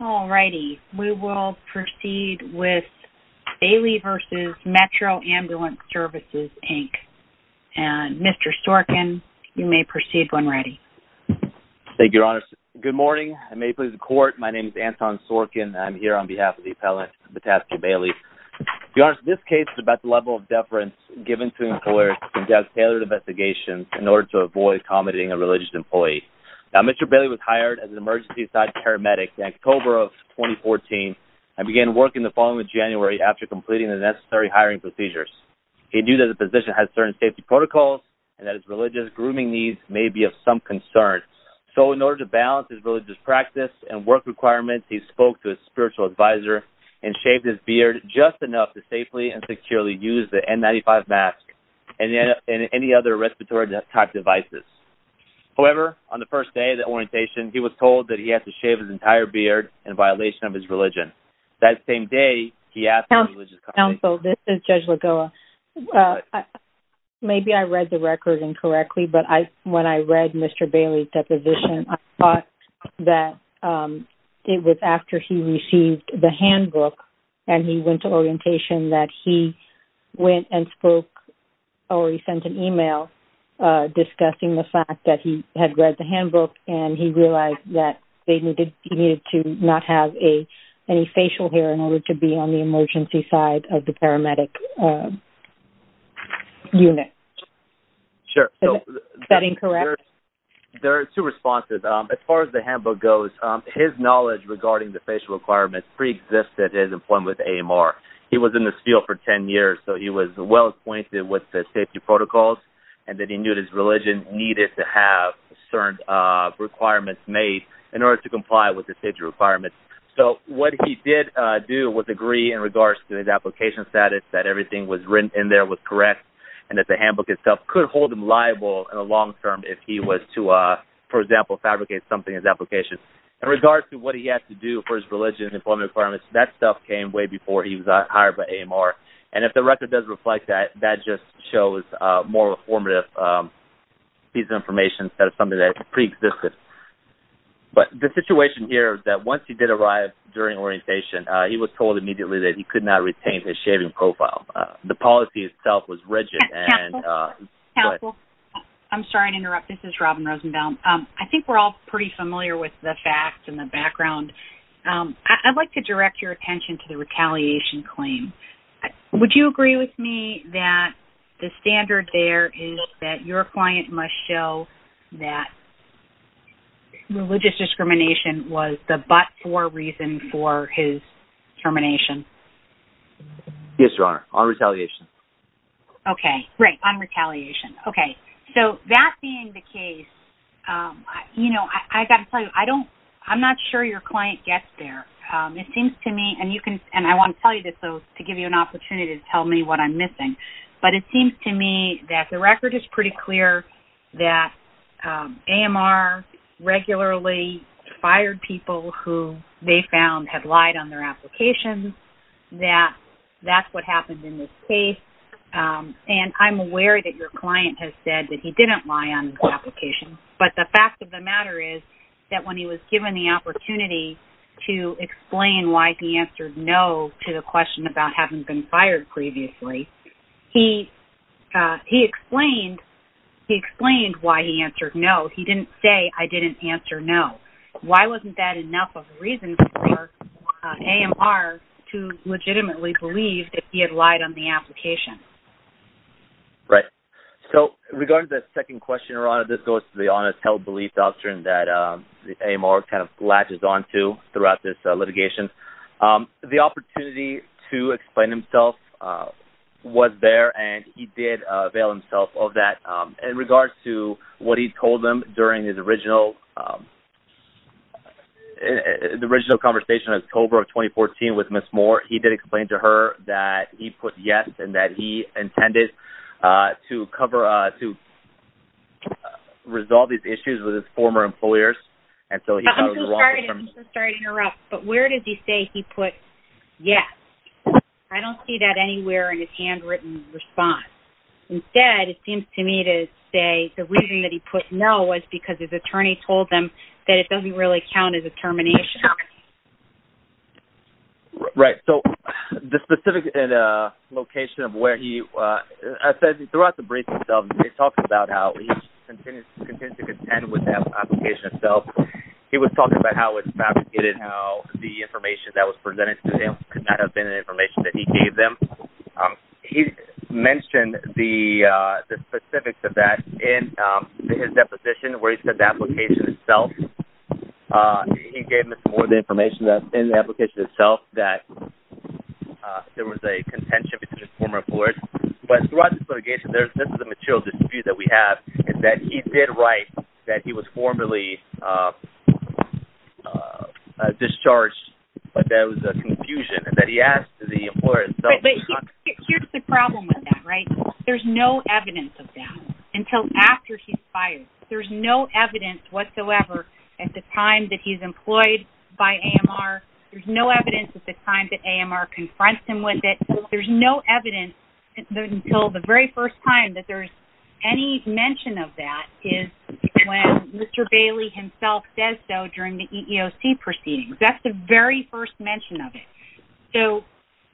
We will proceed with Bailey v. Metro Ambulance Services, Inc. Mr. Sorkin, you may proceed when ready. Thank you, Your Honor. Good morning, and may it please the Court, my name is Anton Sorkin. I'm here on behalf of the appellant, Bataski Bailey. Your Honor, this case is about the level of deference given to employers to conduct tailored investigations in order to avoid accommodating a religious employee. Now, Mr. Bailey was hired as an emergency-side paramedic in October of 2014 and began work in the following January after completing the necessary hiring procedures. He knew that his position had certain safety protocols and that his religious grooming needs may be of some concern. So, in order to balance his religious practice and work requirements, he spoke to his spiritual advisor and shaved his beard just enough to safely and securely use the N95 mask and any other respiratory-type devices. However, on the first day of the orientation, he was told that he had to shave his entire beard in violation of his religion. That same day, he asked the religious company... Counsel, this is Judge Lagoa. Maybe I read the record incorrectly, but when I read Mr. Bailey's deposition, I thought that it was after he received the handbook and he went to orientation that he went and spoke or he sent an email discussing the fact that he had read the handbook and he realized that he needed to not have any facial hair in order to be on the emergency side of the paramedic unit. Sure. Is that incorrect? There are two responses. As far as the handbook goes, his knowledge regarding the facial requirements preexisted his employment with AMR. He was in this field for 10 years, so he was well acquainted with the safety protocols and that he knew his religion needed to have certain requirements made in order to comply with the safety requirements. So what he did do was agree in regards to his application status that everything was written in there was correct and that the handbook itself could hold him liable in the long term if he was to, for example, fabricate something in his application. In regards to what he had to do for his religion and employment requirements, that stuff came way before he was hired by AMR. And if the record does reflect that, that just shows more of a formative piece of information instead of something that preexisted. But the situation here is that once he did arrive during orientation, he was told immediately that he could not retain his shaving profile. The policy itself was rigid. Counsel, I'm sorry to interrupt. This is Robin Rosenbaum. I think we're all pretty familiar with the facts and the background. I'd like to direct your attention to the retaliation claim. Would you agree with me that the standard there is that your client must show that religious discrimination was the but-for reason for his termination? Yes, Your Honor, on retaliation. Okay, great, on retaliation. Okay, so that being the case, you know, I've got to tell you, I'm not sure your client gets there. It seems to me, and I want to tell you this to give you an opportunity to tell me what I'm missing, but it seems to me that the record is pretty clear that AMR regularly fired people who they found had lied on their application, that that's what happened in this case, and I'm aware that your client has said that he didn't lie on his application, but the fact of the matter is that when he was given the opportunity to explain why he answered no to the question about having been fired previously, he explained why he answered no. He didn't say, I didn't answer no. Why wasn't that enough of a reason for AMR to legitimately believe that he had lied on the application? Right. So, regarding the second question, Your Honor, this goes to the honest held belief doctrine that AMR kind of latches onto throughout this litigation. The opportunity to explain himself was there, and he did avail himself of that. In regards to what he told them during his original conversation in October of 2014 with Ms. Moore, he did explain to her that he put yes and that he intended to resolve these issues with his former employers. I'm so sorry to interrupt, but where does he say he put yes? I don't see that anywhere in his handwritten response. Instead, it seems to me to say the reason that he put no was because his attorney told him that it doesn't really count as a termination. Right. So, the specific location of where he, as I said, throughout the brief itself, he talked about how he continues to contend with that application itself. He was talking about how it fabricated how the information that was presented to him could not have been information that he gave them. He mentioned the specifics of that in his deposition where he said the application itself. He gave Ms. Moore the information in the application itself that there was a contention between his former employers. But throughout this litigation, this is a material dispute that we have, is that he did write that he was formerly discharged, but there was a confusion, and that he asked the employers themselves. But here's the problem with that, right? There's no evidence of that until after he's fired. There's no evidence whatsoever at the time that he's employed by AMR. There's no evidence at the time that AMR confronts him with it. There's no evidence until the very first time that there's any mention of that is when Mr. Bailey himself says so during the EEOC proceedings. That's the very first mention of it. So,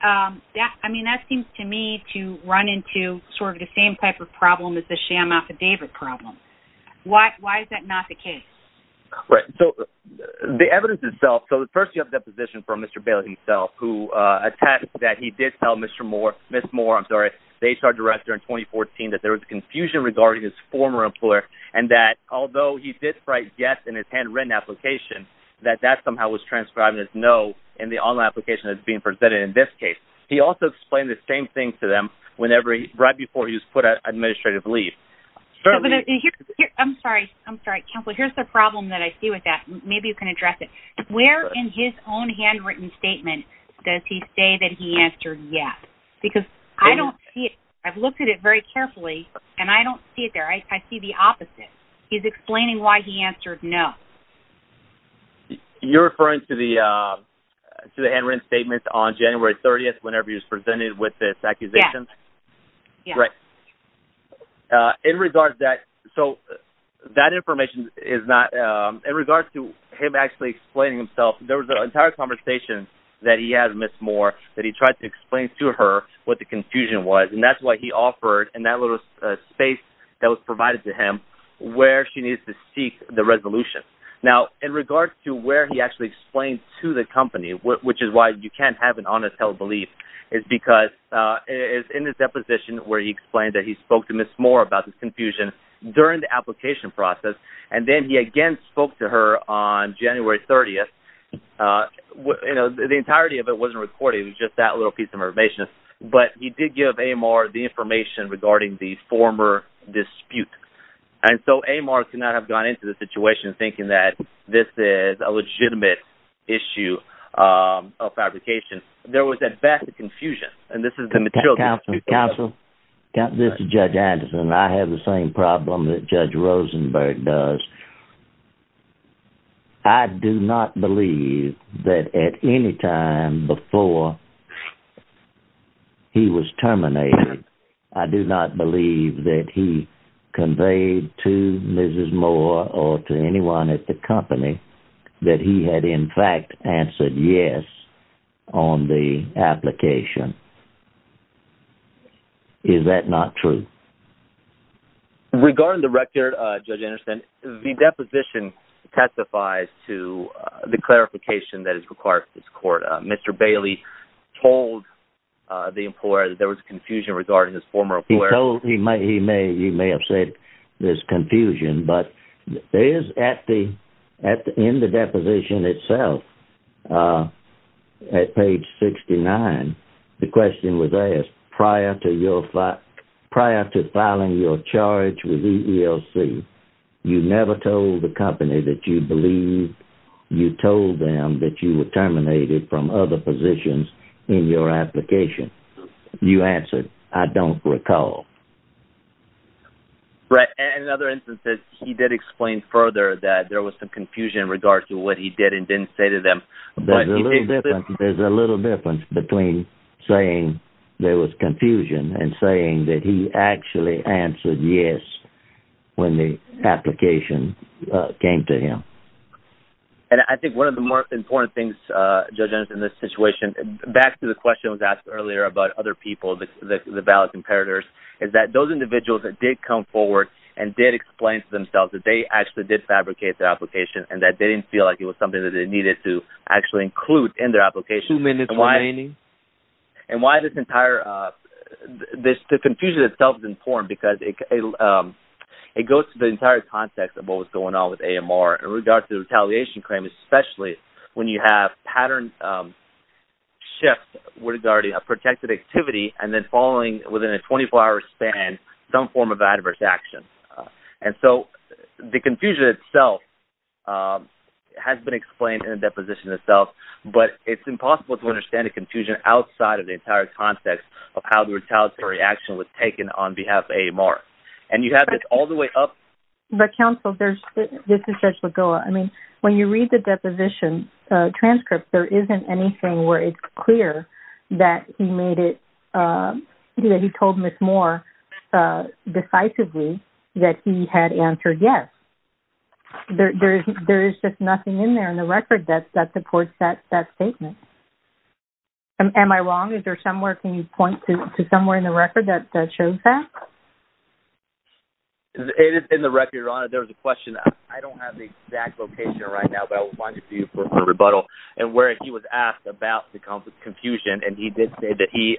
I mean, that seems to me to run into sort of the same type of problem as the sham affidavit problem. Why is that not the case? Right, so the evidence itself, so first you have the deposition from Mr. Bailey himself who attests that he did tell Ms. Moore, I'm sorry, the HR director in 2014, that there was confusion regarding his former employer, and that although he did write yes in his handwritten application, that that somehow was transcribed as no in the online application that's being presented in this case. He also explained the same thing to them right before he was put on administrative leave. I'm sorry, Counselor, here's the problem that I see with that. Maybe you can address it. Where in his own handwritten statement does he say that he answered yes? Because I don't see it. I've looked at it very carefully, and I don't see it there. I see the opposite. He's explaining why he answered no. You're referring to the handwritten statement on January 30th whenever he was presented with this accusation? Yes. Right. In regards to that, so that information is not, in regards to him actually explaining himself, there was an entire conversation that he had with Ms. Moore that he tried to explain to her what the confusion was, and that's why he offered in that little space that was provided to him where she needs to seek the resolution. Now, in regards to where he actually explained to the company, which is why you can't have an honest held belief, is because it's in his deposition where he explained that he spoke to Ms. Moore about this confusion during the application process, and then he again spoke to her on January 30th. The entirety of it wasn't recorded. It was just that little piece of information. But he did give Amar the information regarding the former dispute, and so Amar could not have gone into the situation thinking that this is a legitimate issue of fabrication. There was at best a confusion, and this is the material dispute. Counsel, this is Judge Anderson, and I have the same problem that Judge Rosenberg does. I do not believe that at any time before he was terminated, I do not believe that he conveyed to Ms. Moore or to anyone at the company that he had in fact answered yes on the application. Is that not true? Regarding the record, Judge Anderson, the deposition testifies to the clarification that is required for this court. Mr. Bailey told the employer that there was a confusion regarding this former employer. He may have said there's confusion, but in the deposition itself, at page 69, the question was asked, prior to filing your charge with EELC, you never told the company that you believed you told them that you were terminated from other positions in your application. You answered, I don't recall. Right. In other instances, he did explain further that there was some confusion in regards to what he did and didn't say to them. There's a little difference between saying there was confusion and saying that he actually answered yes when the application came to him. And I think one of the more important things, Judge Anderson, in this situation, back to the question that was asked earlier about other people, the valid competitors, is that those individuals that did come forward and did explain to themselves that they actually did fabricate the application and that they didn't feel like it was something that they needed to actually include in their application. Two minutes remaining. And why this entire – the confusion itself is important because it goes to the entire context of what was going on with AMR in regards to the retaliation claim, especially when you have pattern shifts regarding a protected activity and then following, within a 24-hour span, some form of adverse action. And so the confusion itself has been explained in the deposition itself, but it's impossible to understand the confusion outside of the entire context of how the retaliatory action was taken on behalf of AMR. And you have this all the way up – But, counsel, there's – this is Judge Lagoa. I mean, when you read the deposition transcript, there isn't anything where it's clear that he made it – that he told Ms. Moore decisively that he had answered yes. There is just nothing in there in the record that supports that statement. Am I wrong? Is there somewhere – can you point to somewhere in the record that shows that? It is in the record, Your Honor. There was a question – I don't have the exact location right now, but I will find it for you for rebuttal – and where he was asked about the confusion, and he did say that he,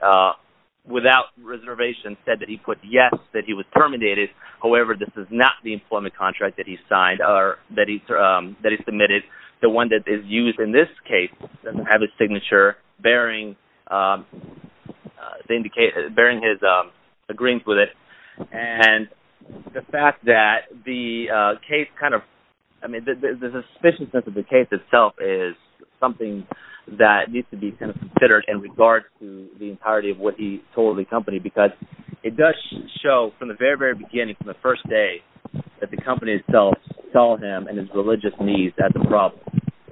without reservation, said that he put yes, that he was terminated. However, this is not the employment contract that he signed or that he submitted. The one that is used in this case doesn't have his signature bearing his – agreeing with it. And the fact that the case kind of – I mean, there's a suspicion that the case itself is something that needs to be kind of considered in regard to the entirety of what he told the company, because it does show from the very, very beginning, from the first day, that the company itself saw him and his religious needs as a problem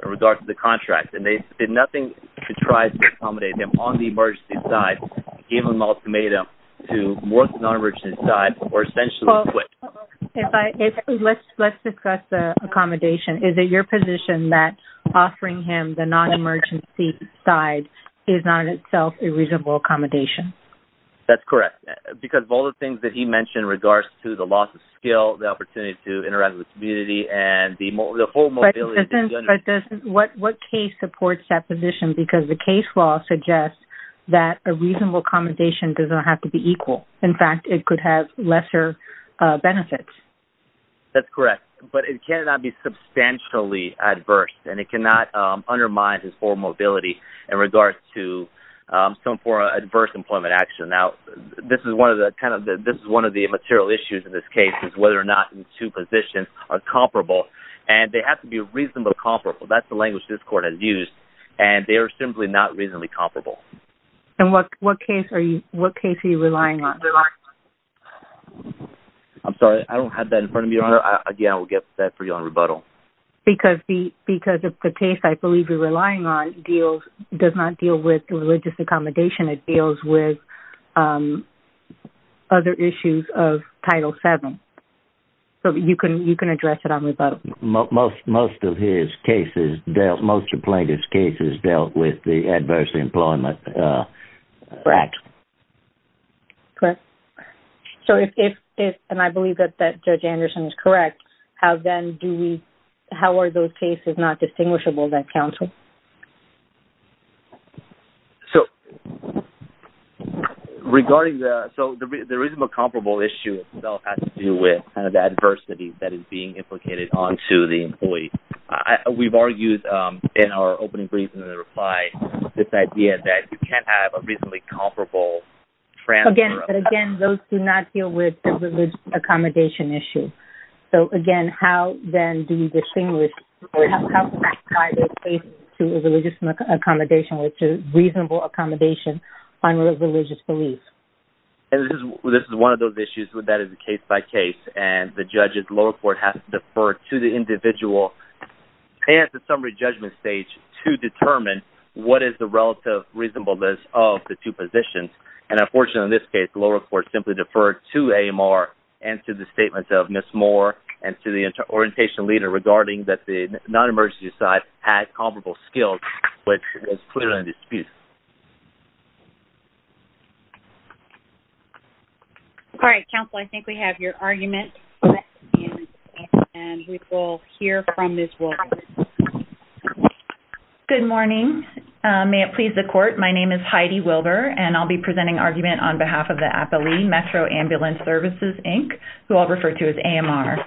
in regard to the contract. And they did nothing to try to accommodate him on the emergency side, and gave him an ultimatum to work the non-emergency side or essentially quit. Let's discuss the accommodation. Is it your position that offering him the non-emergency side is not in itself a reasonable accommodation? That's correct, because of all the things that he mentioned in regards to the loss of skill, the opportunity to interact with the community, and the whole mobility… But what case supports that position, because the case law suggests that a reasonable accommodation does not have to be equal. In fact, it could have lesser benefits. That's correct, but it cannot be substantially adverse, and it cannot undermine his full mobility in regards to some form of adverse employment action. Now, this is one of the material issues in this case, is whether or not the two positions are comparable. And they have to be reasonably comparable. That's the language this court has used. And they are simply not reasonably comparable. And what case are you relying on? I'm sorry, I don't have that in front of me. Again, I will get that for you on rebuttal. Because the case I believe you're relying on does not deal with religious accommodation. It deals with other issues of Title VII. So, you can address it on rebuttal. Most of his cases dealt with the adverse employment. Correct. Correct. So, if, and I believe that Judge Anderson is correct, how are those cases not distinguishable by counsel? So, regarding the, so the reasonable comparable issue itself has to do with kind of the adversity that is being implicated onto the employee. We've argued in our opening brief in the reply, this idea that you can't have a reasonably comparable transfer. Again, those do not deal with the religious accommodation issue. So, again, how then do you distinguish, how do you tie those cases to religious accommodation, which is reasonable accommodation on religious belief? And this is one of those issues that is case by case. And the judges, lower court has to defer to the individual at the summary judgment stage to determine what is the relative reasonableness of the two positions. And unfortunately in this case, lower court simply deferred to AMR and to the statements of Ms. Moore and to the orientation leader regarding that the non-emergency side had comparable skills, which is clearly a dispute. All right, counsel, I think we have your argument. And we will hear from Ms. Wilber. Good morning. May it please the court, my name is Heidi Wilber, and I'll be presenting argument on behalf of the Appalachian Metro Ambulance Services, Inc., who I'll refer to as AMR.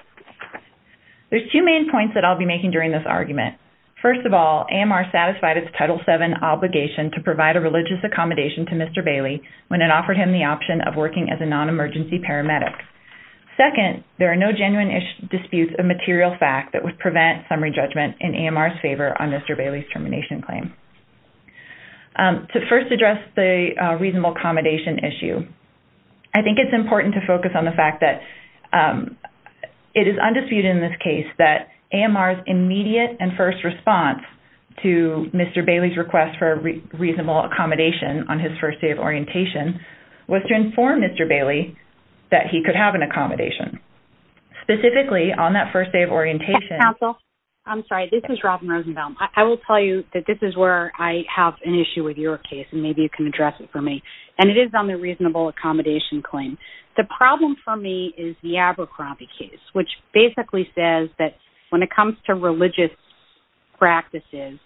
There's two main points that I'll be making during this argument. First of all, AMR satisfied its Title VII obligation to provide a religious accommodation to Mr. Bailey when it offered him the option of working as a non-emergency paramedic. Second, there are no genuine disputes of material fact that would prevent summary judgment in AMR's favor on Mr. Bailey's termination claim. To first address the reasonable accommodation issue, I think it's important to focus on the fact that it is undisputed in this case that AMR's immediate and first response to Mr. Bailey's request for a reasonable accommodation on his first day of orientation was to inform Mr. Bailey that he could have an accommodation. Specifically, on that first day of orientation... Yes, counsel. I'm sorry, this is Robin Rosenbaum. I will tell you that this is where I have an issue with your case, and maybe you can address it for me. And it is on the reasonable accommodation claim. The problem for me is the Abercrombie case, which basically says that when it comes to religious practices,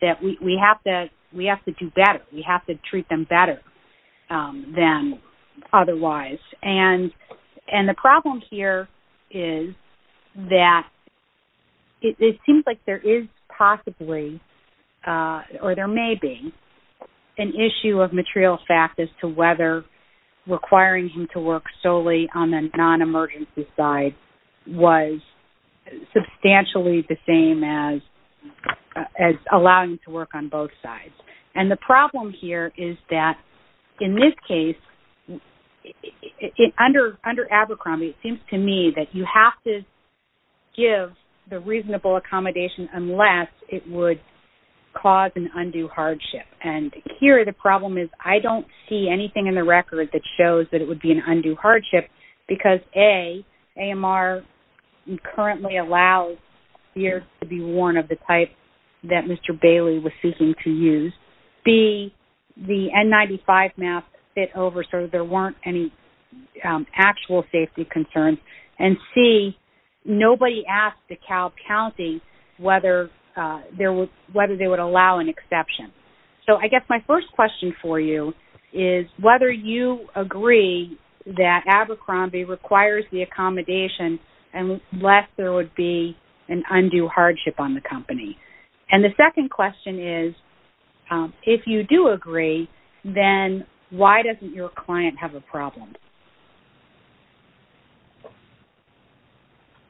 that we have to do better. We have to treat them better than otherwise. And the problem here is that it seems like there is possibly, or there may be, an issue of material fact as to whether requiring him to work solely on the non-emergency side was substantially the same as allowing him to work on both sides. And the problem here is that, in this case, under Abercrombie, it seems to me that you have to give the reasonable accommodation unless it would cause an undue hardship. And here the problem is I don't see anything in the record that shows that it would be an undue hardship because, A, AMR currently allows peers to be worn of the type that Mr. Bailey was seeking to use. B, the N95 mask fit over so there weren't any actual safety concerns. And, C, nobody asked DeKalb County whether they would allow an exception. So I guess my first question for you is whether you agree that Abercrombie requires the accommodation unless there would be an undue hardship on the company. And the second question is, if you do agree, then why doesn't your client have a problem?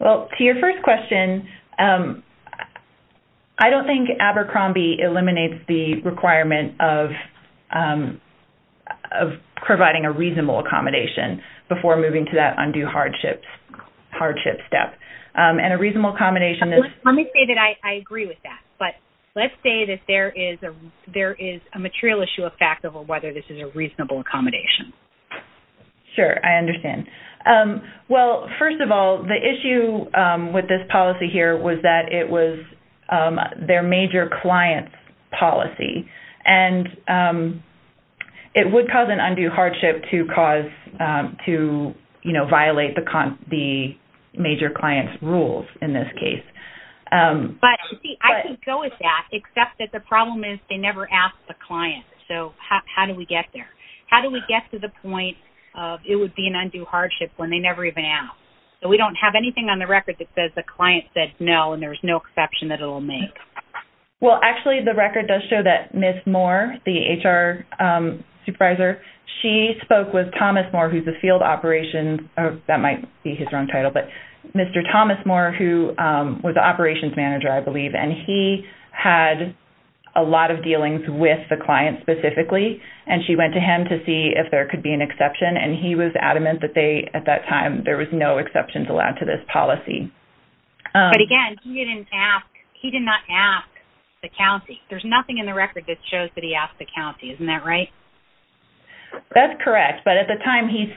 Well, to your first question, I don't think Abercrombie eliminates the requirement of providing a reasonable accommodation before moving to that undue hardship step. And a reasonable accommodation is... Let me say that I agree with that. But let's say that there is a material issue of fact over whether this is a reasonable accommodation. Sure, I understand. Well, first of all, the issue with this policy here was that it was their major client's policy. And it would cause an undue hardship to cause... to, you know, violate the major client's rules in this case. But, see, I can go with that except that the problem is they never ask the client. So how do we get there? How do we get to the point of it would be an undue hardship when they never even ask? So we don't have anything on the record that says the client said no and there's no exception that it'll make. Well, actually, the record does show that Ms. Moore, the HR supervisor, she spoke with Thomas Moore, who's a field operations... That might be his wrong title, but Mr. Thomas Moore, who was the operations manager, I believe, and he had a lot of dealings with the client specifically. And she went to him to see if there could be an exception. And he was adamant that they, at that time, there was no exceptions allowed to this policy. But, again, he didn't ask. He did not ask the county. There's nothing in the record that shows that he asked the county. Isn't that right? That's correct. But at the time, he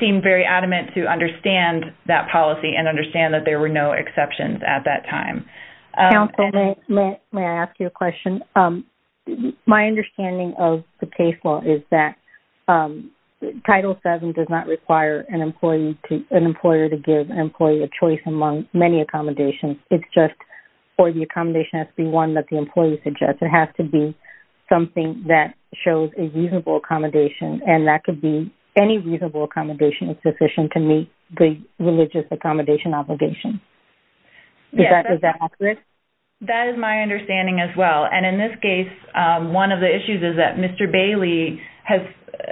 seemed very adamant to understand that policy and understand that there were no exceptions at that time. Counsel, may I ask you a question? My understanding of the case law is that Title VII does not require an employer to give an employee a choice among many accommodations. It's just for the accommodation, it has to be one that the employee suggests. It has to be something that shows a reasonable accommodation, and that could be any reasonable accommodation that's sufficient to meet the religious accommodation obligation. Is that accurate? That is my understanding as well. And in this case, one of the issues is that Mr. Bailey has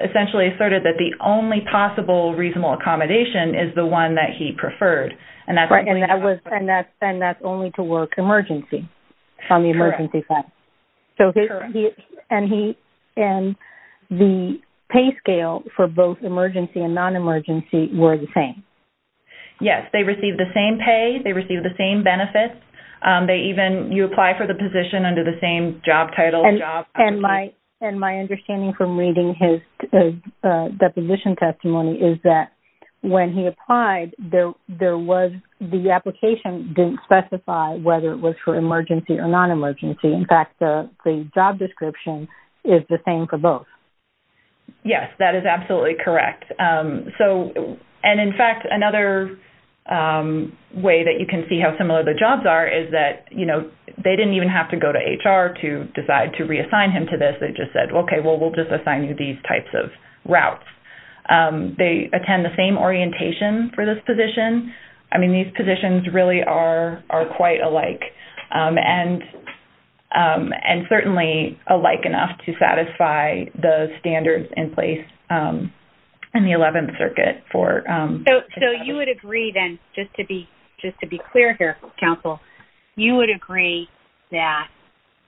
essentially asserted that the only possible reasonable accommodation is the one that he preferred. And that's only to work emergency, on the emergency side. Correct. And the pay scale for both emergency and non-emergency were the same. Yes, they received the same pay. They received the same benefits. You apply for the position under the same job title. And my understanding from reading his deposition testimony is that when he applied, the application didn't specify whether it was for emergency or non-emergency. In fact, the job description is the same for both. Yes, that is absolutely correct. And, in fact, another way that you can see how similar the jobs are is that they didn't even have to go to HR to decide to reassign him to this. They just said, okay, well, we'll just assign you these types of routes. They attend the same orientation for this position. I mean, these positions really are quite alike, and certainly alike enough to satisfy the standards in place in the 11th Circuit. So you would agree then, just to be clear here, counsel, you would agree that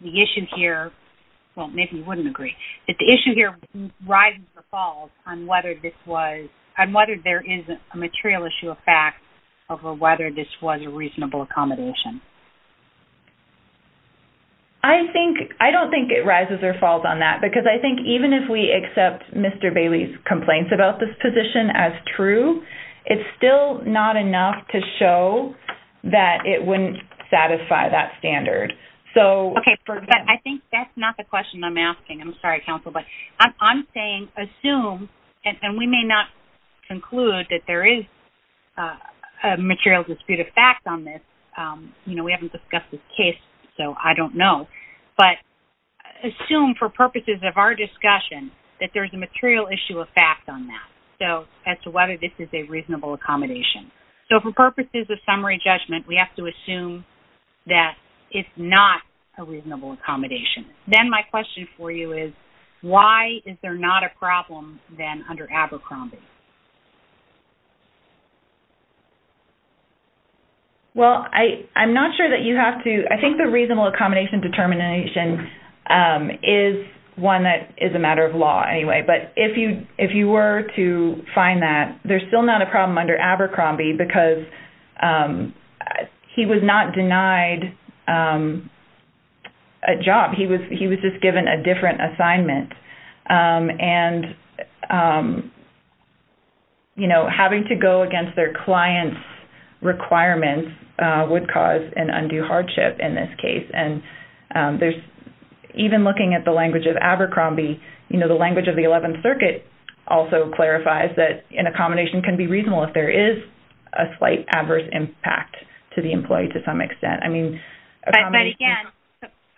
the issue here – well, maybe you wouldn't agree – that the issue here rises or falls on whether this was – I don't think it rises or falls on that, because I think even if we accept Mr. Bailey's complaints about this position as true, it's still not enough to show that it wouldn't satisfy that standard. Okay, but I think that's not the question I'm asking. I'm sorry, counsel, but I'm saying assume, and we may not conclude that there is a material dispute of fact on this. We haven't discussed this case, so I don't know. But assume for purposes of our discussion that there's a material issue of fact on that, so as to whether this is a reasonable accommodation. So for purposes of summary judgment, we have to assume that it's not a reasonable accommodation. Then my question for you is, why is there not a problem then under Abercrombie? I'm not sure that you have to – I think the reasonable accommodation determination is one that is a matter of law anyway. But if you were to find that, there's still not a problem under Abercrombie, because he was not denied a job. He was just given a different assignment. And having to go against their client's requirements would cause an undue hardship in this case. And even looking at the language of Abercrombie, the language of the 11th Circuit also clarifies that an accommodation can be reasonable if there is a slight adverse impact to the employee to some extent. But again,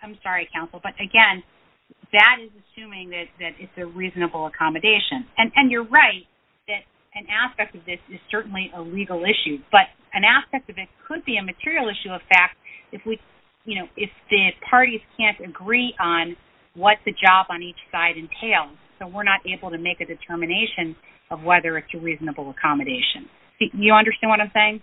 I'm sorry, Counsel. But again, that is assuming that it's a reasonable accommodation. And you're right that an aspect of this is certainly a legal issue. But an aspect of it could be a material issue of fact if the parties can't agree on what the job on each side entails. So we're not able to make a determination of whether it's a reasonable accommodation. You understand what I'm saying?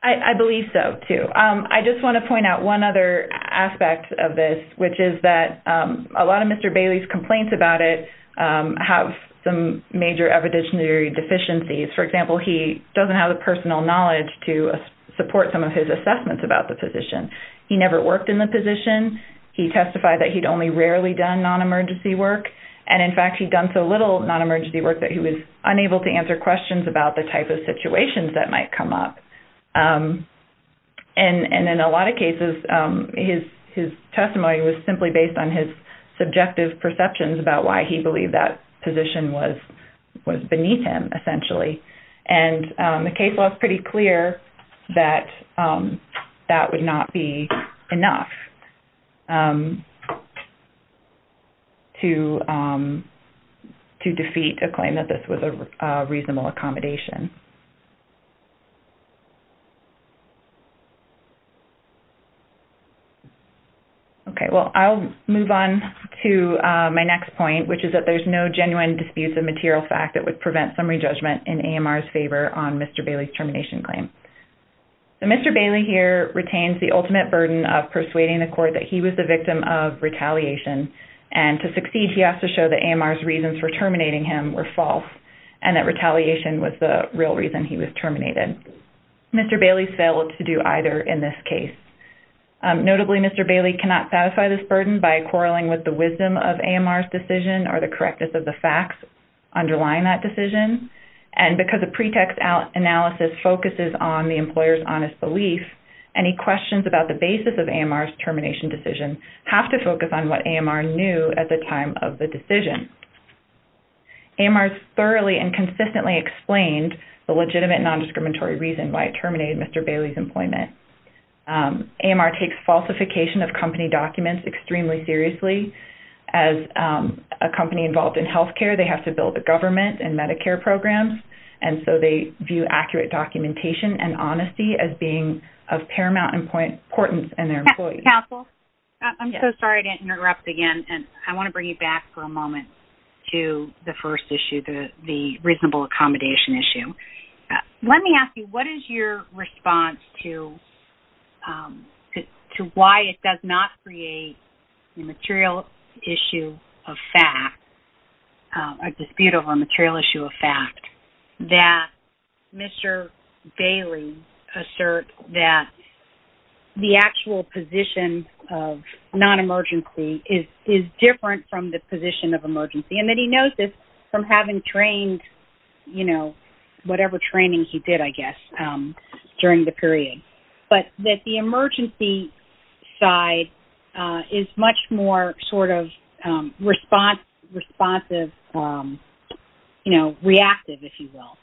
I believe so, too. I just want to point out one other aspect of this, which is that a lot of Mr. Bailey's complaints about it have some major evidentiary deficiencies. For example, he doesn't have the personal knowledge to support some of his assessments about the position. He never worked in the position. He testified that he'd only rarely done non-emergency work. And, in fact, he'd done so little non-emergency work that he was unable to answer questions about the type of situations that might come up. And in a lot of cases, his testimony was simply based on his subjective perceptions about why he believed that position was beneath him, essentially. And the case was pretty clear that that would not be enough to defeat a claim that this was a reasonable accommodation. Okay, well, I'll move on to my next point, which is that there's no genuine disputes of material fact that would prevent summary judgment in AMR's favor on Mr. Bailey's termination claim. Mr. Bailey here retains the ultimate burden of persuading the court that he was the victim of retaliation. And to succeed, he has to show that AMR's reasons for terminating him were false and that retaliation was the real reason he was terminated. Mr. Bailey failed to do either in this case. Notably, Mr. Bailey cannot satisfy this burden by quarreling with the wisdom of AMR's decision or the correctness of the facts underlying that decision. And because a pretext analysis focuses on the employer's honest belief, any questions about the basis of AMR's termination decision have to focus on what AMR knew at the time of the decision. AMR's thoroughly and consistently explained the legitimate nondiscriminatory reason why it terminated Mr. Bailey's employment. AMR takes falsification of company documents extremely seriously. As a company involved in healthcare, they have to build a government and Medicare programs, and so they view accurate documentation and honesty as being of paramount importance in their employees. Counsel? Yes. I'm so sorry to interrupt again, and I want to bring you back for a moment to the first issue, the reasonable accommodation issue. Let me ask you, what is your response to why it does not create a material issue of fact, a dispute over a material issue of fact, that Mr. Bailey asserts that the actual position of non-emergency is different from the position of emergency, and that he knows this from having trained, you know, whatever training he did, I guess, during the period. But that the emergency side is much more sort of responsive, you know, reactive, if you will,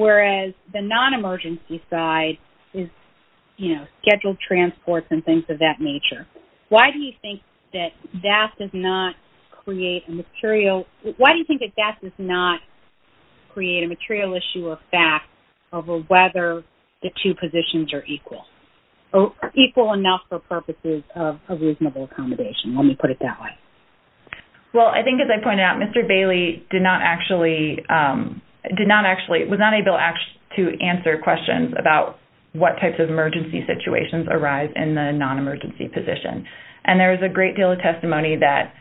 whereas the non-emergency side is, you know, scheduled transports and things of that nature. Why do you think that that does not create a material – why do you think that that does not create a material issue of fact over whether the two positions are equal, equal enough for purposes of reasonable accommodation? Let me put it that way. Well, I think, as I pointed out, Mr. Bailey did not actually – did not actually – was not able to answer questions about what types of emergency situations arise in the non-emergency position. And there is a great deal of testimony that,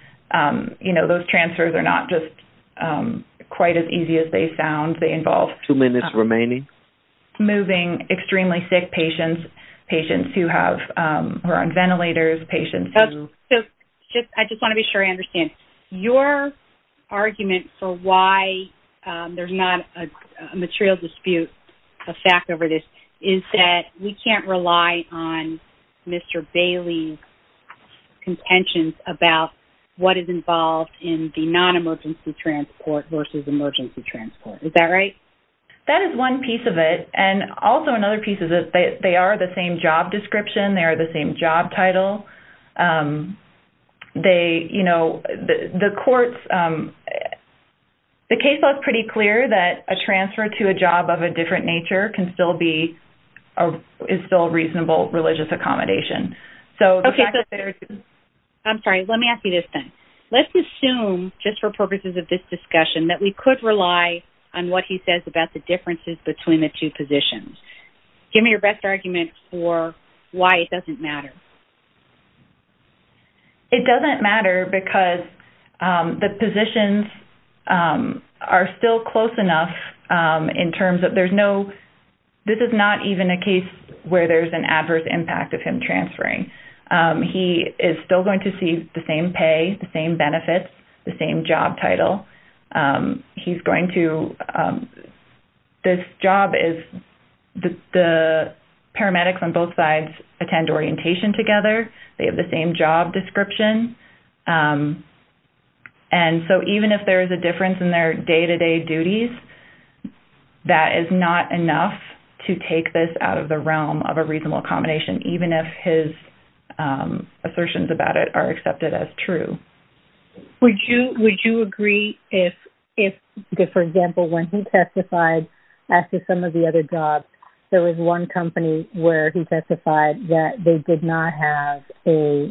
you know, those transfers are not just quite as easy as they sound. They involve – Two minutes remaining. Moving extremely sick patients, patients who have – who are on ventilators, patients who – So, I just want to be sure I understand. Your argument for why there's not a material dispute of fact over this is that we can't rely on Mr. Bailey's what is involved in the non-emergency transport versus emergency transport. Is that right? That is one piece of it. And also another piece is that they are the same job description. They are the same job title. They, you know, the courts – the case law is pretty clear that a transfer to a job of a different nature can still be – is still a reasonable religious accommodation. So, the fact that there's – I'm sorry. Let me ask you this thing. Let's assume, just for purposes of this discussion, that we could rely on what he says about the differences between the two positions. Give me your best argument for why it doesn't matter. It doesn't matter because the positions are still close enough in terms of there's no – this is not even a case where there's an adverse impact of him transferring. He is still going to see the same pay, the same benefits, the same job title. He's going to – this job is – the paramedics on both sides attend orientation together. They have the same job description. And so, even if there is a difference in their day-to-day duties, that is not enough to take this out of the realm of a reasonable accommodation, even if his assertions about it are accepted as true. Would you agree if, for example, when he testified after some of the other jobs, there was one company where he testified that they did not have a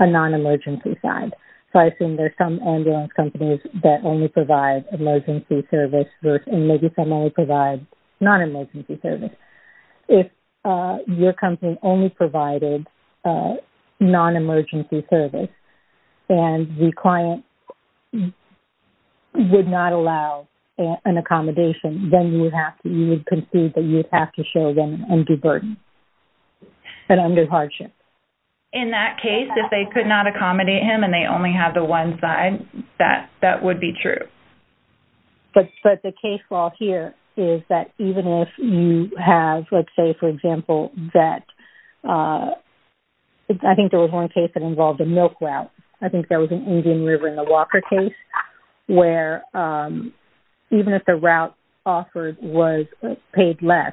non-emergency side? So, I assume there's some ambulance companies that only provide emergency service versus – and maybe some only provide non-emergency service. If your company only provided non-emergency service and the client would not allow an accommodation, then you would have to – you would concede that you would have to show them and do burden and under hardship. In that case, if they could not accommodate him and they only have the one side, that would be true. But the case law here is that even if you have, let's say, for example, that – I think there was one case that involved a milk route. I think there was an Indian River in the Walker case where even if the route offered was paid less,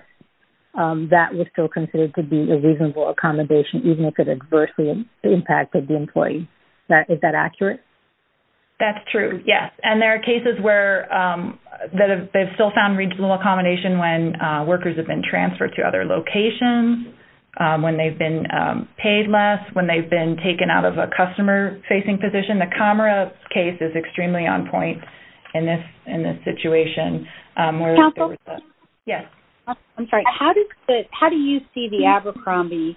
that was still considered to be a reasonable accommodation, even if it adversely impacted the employee. Is that accurate? That's true, yes. And there are cases where they've still found reasonable accommodation when workers have been transferred to other locations, when they've been paid less, when they've been taken out of a customer-facing position. The Comra case is extremely on point in this situation. Council? Yes. I'm sorry. How do you see the Abercrombie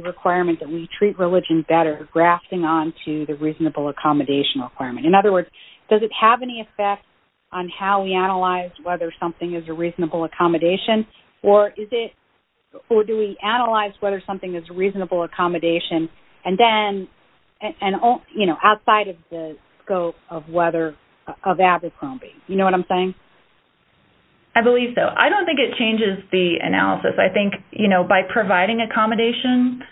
requirement that we treat religion better grafting onto the reasonable accommodation requirement? In other words, does it have any effect on how we analyze whether something is a reasonable accommodation or is it – or do we analyze whether something is a reasonable accommodation and then – you know, outside of the scope of whether – of Abercrombie? You know what I'm saying? I believe so. I don't think it changes the analysis. I think, you know, by providing accommodation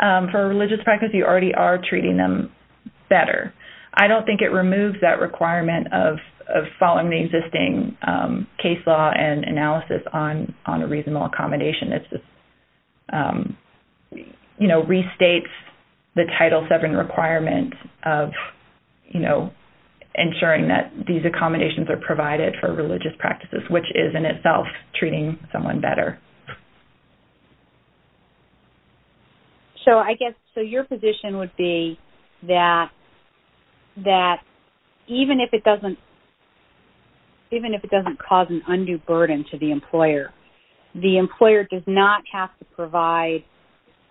for a religious practice, you already are treating them better. I don't think it removes that requirement of following the existing case law and analysis on a reasonable accommodation. It's just – you know, restates the Title VII requirement of, you know, ensuring that these accommodations are provided for religious practices, which is in itself treating someone better. So I guess – so your position would be that even if it doesn't cause an undue burden to the employer, the employer does not have to provide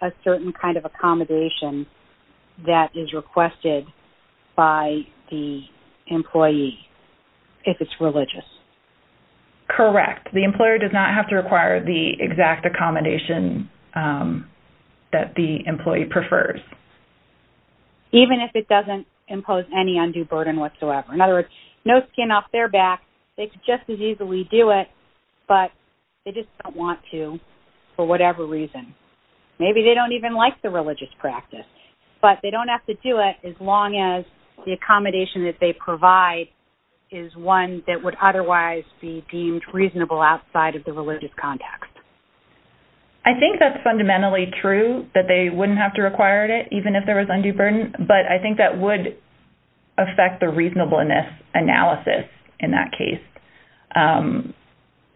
a certain kind of accommodation that is requested by the employee if it's religious? Correct. The employer does not have to require the exact accommodation that the employee prefers. Even if it doesn't impose any undue burden whatsoever. In other words, no skin off their back. They could just as easily do it, but they just don't want to for whatever reason. Maybe they don't even like the religious practice, but they don't have to do it as long as the accommodation that they provide is one that would otherwise be deemed reasonable outside of the religious context. I think that's fundamentally true, that they wouldn't have to require it even if there was undue burden, but I think that would affect the reasonableness analysis in that case.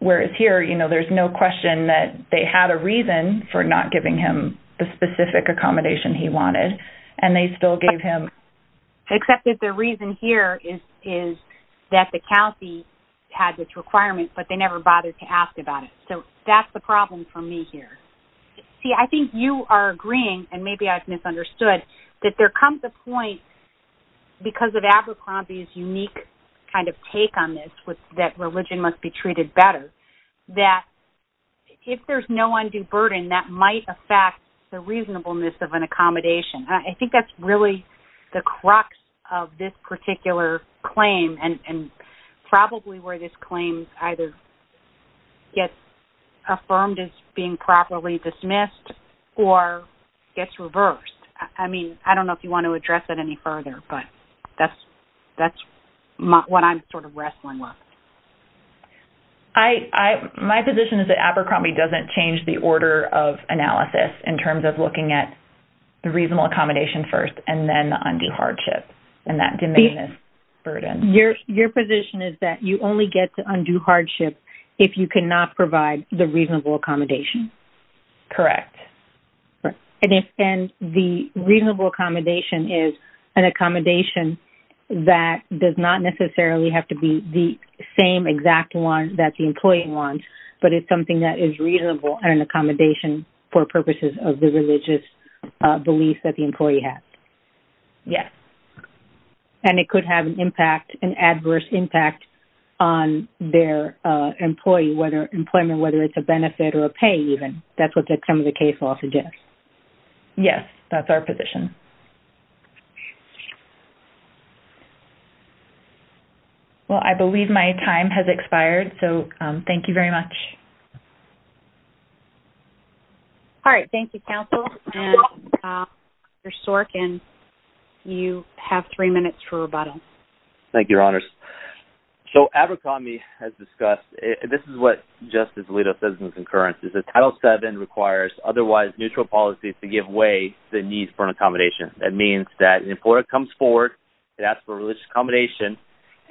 Whereas here, you know, there's no question that they had a reason for not giving him the specific accommodation he wanted, and they still gave him... Except that the reason here is that the county had this requirement, but they never bothered to ask about it. So that's the problem for me here. See, I think you are agreeing, and maybe I've misunderstood, that there comes a point, because of Abercrombie's unique kind of take on this, that religion must be treated better, that if there's no undue burden, that might affect the reasonableness of an accommodation. I think that's really the crux of this particular claim, and probably where this claim either gets affirmed as being properly dismissed, or gets reversed. I mean, I don't know if you want to address that any further, but that's what I'm sort of wrestling with. My position is that Abercrombie doesn't change the order of analysis in terms of looking at the reasonable accommodation first, and then the undue hardship, and that demandless burden. Your position is that you only get the undue hardship if you cannot provide the reasonable accommodation. Correct. And the reasonable accommodation is an accommodation that does not necessarily have to be the same exact one that the employee wants, but it's something that is reasonable, and an accommodation for purposes of the religious beliefs that the employee has. Yes. And it could have an adverse impact on their employment, whether it's a benefit or a pay, even. That's what some of the case law suggests. Yes, that's our position. Well, I believe my time has expired, so thank you very much. All right, thank you, counsel. Mr. Sorkin, you have three minutes for rebuttal. Thank you, Your Honors. So Abercrombie has discussed, and this is what Justice Alito says in concurrence, is that Title VII requires otherwise neutral policies to give way to the need for an accommodation. That means that an employer comes forward, it asks for a religious accommodation,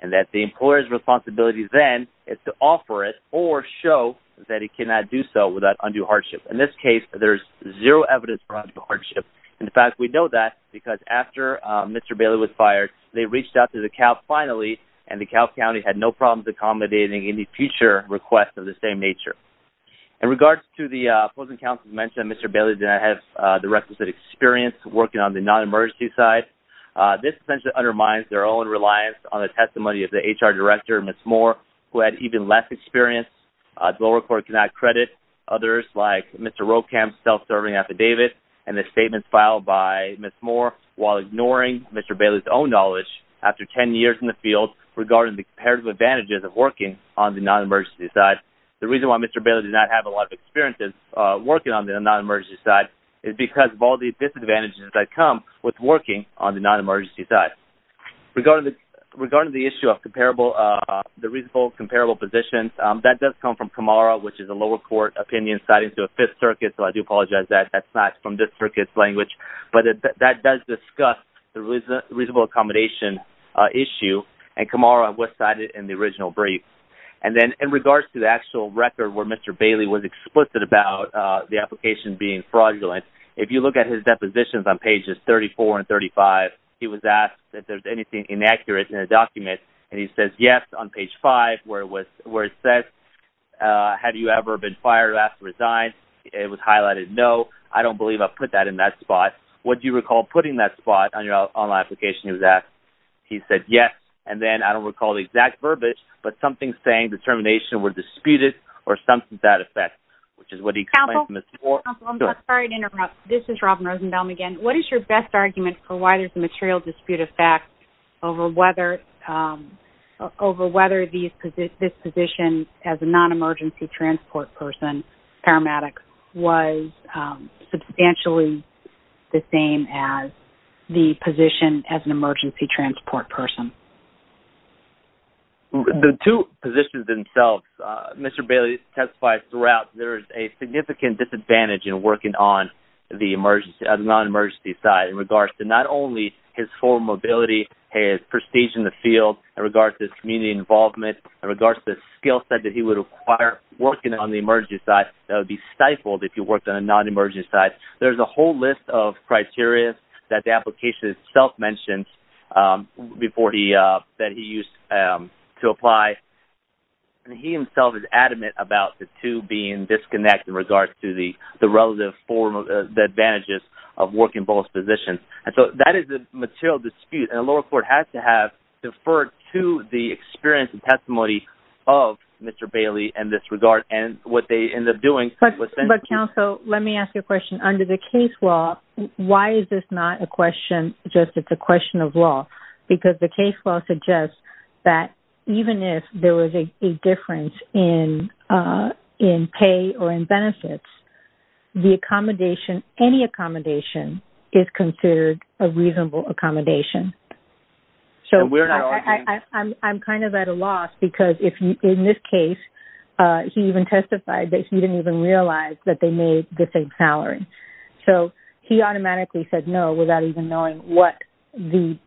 and that the employer's responsibility then is to offer it or show that it cannot do so without undue hardship. In this case, there's zero evidence for undue hardship. In fact, we know that because after Mr. Bailey was fired, they reached out to DeKalb finally, and DeKalb County had no problems accommodating any future requests of the same nature. In regards to the opposing counsel's mention that Mr. Bailey did not have the requisite experience working on the non-emergency side, this essentially undermines their own reliance on the testimony of the HR director, Ms. Moore, who had even less experience. The lower court cannot credit others like Mr. Rocham's self-serving affidavit and the statements filed by Ms. Moore while ignoring Mr. Bailey's own knowledge after 10 years in the field regarding the comparative advantages of working on the non-emergency side. The reason why Mr. Bailey did not have a lot of experience working on the non-emergency side is because of all the disadvantages that come with working on the non-emergency side. Regarding the issue of the reasonable comparable positions, that does come from CAMARA, which is a lower court opinion cited to a Fifth Circuit, so I do apologize that that's not from this circuit's language, but that does discuss the reasonable accommodation issue, and CAMARA was cited in the original brief. And then in regards to the actual record where Mr. Bailey was explicit about the application being fraudulent, if you look at his depositions on pages 34 and 35, he was asked if there's anything inaccurate in the document, and he says yes on page 5, where it says, have you ever been fired or asked to resign? It was highlighted no. I don't believe I put that in that spot. Would you recall putting that spot on your online application? He said yes, and then I don't recall the exact verbiage, but something saying determination were disputed or something to that effect, which is what he explained to Mr. Moore. Counsel, I'm sorry to interrupt. This is Robin Rosenbaum again. What is your best argument for why there's a material dispute effect over whether this position as a non-emergency transport person paramedic was substantially the same as the position as an emergency transport person? The two positions themselves, Mr. Bailey testified throughout there is a significant disadvantage in working on the non-emergency side in regards to not only his full mobility, his prestige in the field, in regards to his community involvement, in regards to the skill set that he would acquire working on the emergency side. That would be stifled if he worked on a non-emergency side. There's a whole list of criteria that the application itself mentions that he used to apply, and he himself is adamant about the two being disconnected in regards to the relative advantages of working both positions. That is the material dispute, and the lower court has to have deferred to the experience and testimony of Mr. Bailey in this regard, and what they end up doing. But counsel, let me ask you a question. Under the case law, why is this not a question just that it's a question of law? Because the case law suggests that even if there was a difference in pay or in benefits, the accommodation, any accommodation, is considered a reasonable accommodation. So I'm kind of at a loss, because in this case, he even testified that he didn't even realize that they made the same salary. So he automatically said no without even knowing what the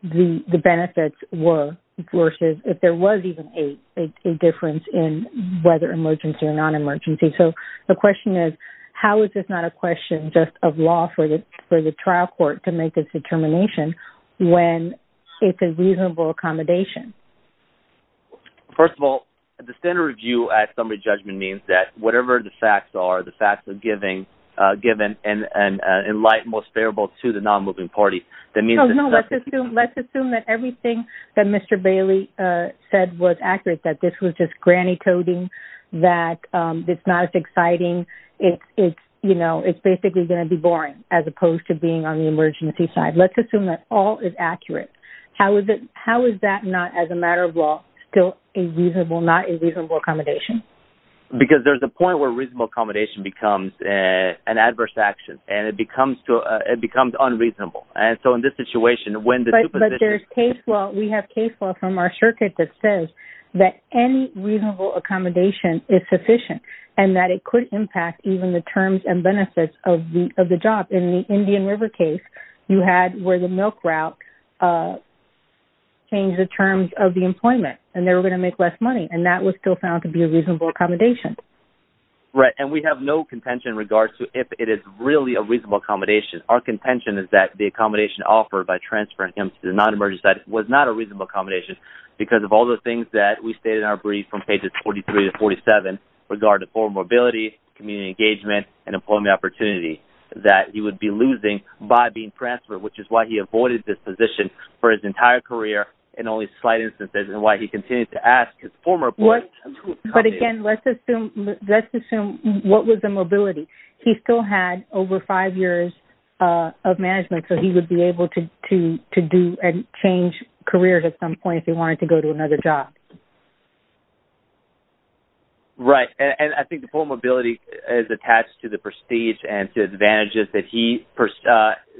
benefits were versus if there was even a difference in whether emergency or non-emergency. So the question is, how is this not a question just of law for the trial court to make its determination when it's a reasonable accommodation? First of all, the standard review at summary judgment means that whatever the facts are, the facts are given and in light and most favorable to the non-moving party. No, let's assume that everything that Mr. Bailey said was accurate, that this was just granny coding, that it's not as exciting. It's basically going to be boring as opposed to being on the emergency side. Let's assume that all is accurate. How is that not, as a matter of law, still not a reasonable accommodation? Because there's a point where reasonable accommodation becomes an adverse action and it becomes unreasonable. And so in this situation, when the two positions... But we have case law from our circuit that says that any reasonable accommodation is sufficient and that it could impact even the terms and benefits of the job. In the Indian River case, you had where the milk route changed the terms of the employment and they were going to make less money and that was still found to be a reasonable accommodation. Right, and we have no contention in regards to if it is really a reasonable accommodation. Our contention is that the accommodation offered by transferring him to the non-emergency side was not a reasonable accommodation because of all the things that we state in our brief from pages 43 to 47 regarding formal mobility, community engagement, and employment opportunity that he would be losing by being transferred, which is why he avoided this position for his entire career in only slight instances and why he continued to ask his former employer to accommodate him. But again, let's assume what was the mobility. He still had over five years of management so he would be able to do and change careers at some point if he wanted to go to another job. Right, and I think the formal mobility is attached to the prestige and to advantages that he,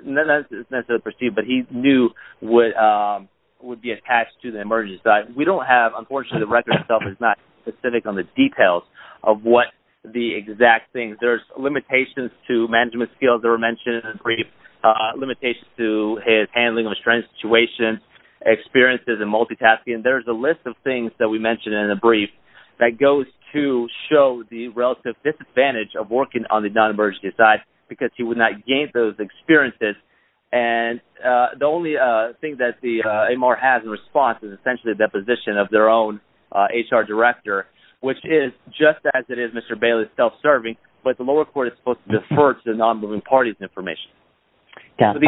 not necessarily prestige, but he knew would be attached to the emergency side. We don't have, unfortunately, the record itself is not specific on the details of what the exact things. There's limitations to management skills that were mentioned in the brief, limitations to his handling of a strange situation, experiences in multitasking. There's a list of things that we mentioned in the brief that goes to show the relative disadvantage of working on the non-emergency side because he would not gain those experiences. And the only thing that the AMR has in response is essentially a deposition of their own HR director, which is just as it is Mr. Bailey's self-serving, but the lower court is supposed to defer to the non-moving parties information. Counsel,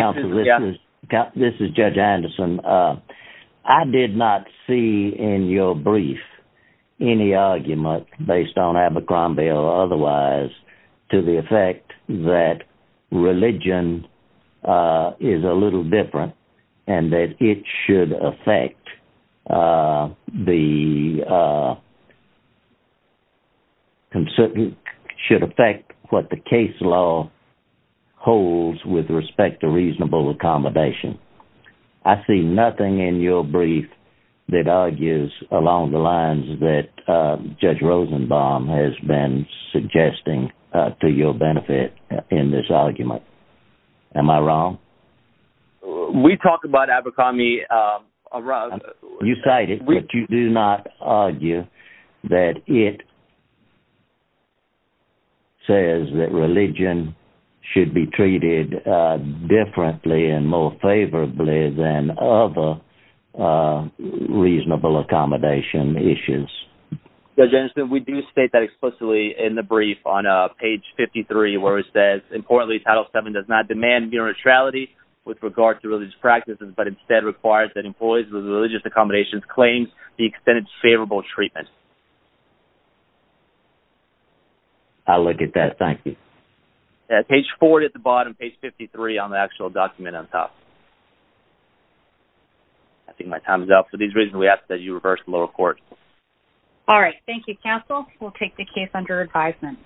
this is Judge Anderson. I did not see in your brief any argument based on Abercrombie or otherwise to the effect that religion is a little different and that it should affect what the case law holds with respect to reasonable accommodation. I see nothing in your brief that argues along the lines that Judge Rosenbaum has been suggesting to your benefit in this argument. Am I wrong? We talked about Abercrombie... You cited it, but you do not argue that it says that religion should be treated differently and more favorably than other reasonable accommodation issues. Judge Anderson, we do state that explicitly in the brief on page 53 where it says, importantly, Title VII does not demand neutrality with regard to religious practices, but instead requires that employees with religious accommodations claim the extended favorable treatment. I'll look at that. Thank you. Page four at the bottom, and then page 53 on the actual document on top. I think my time is up. For these reasons, we ask that you reverse the lower court. All right. Thank you, counsel. We'll take the case under advisement.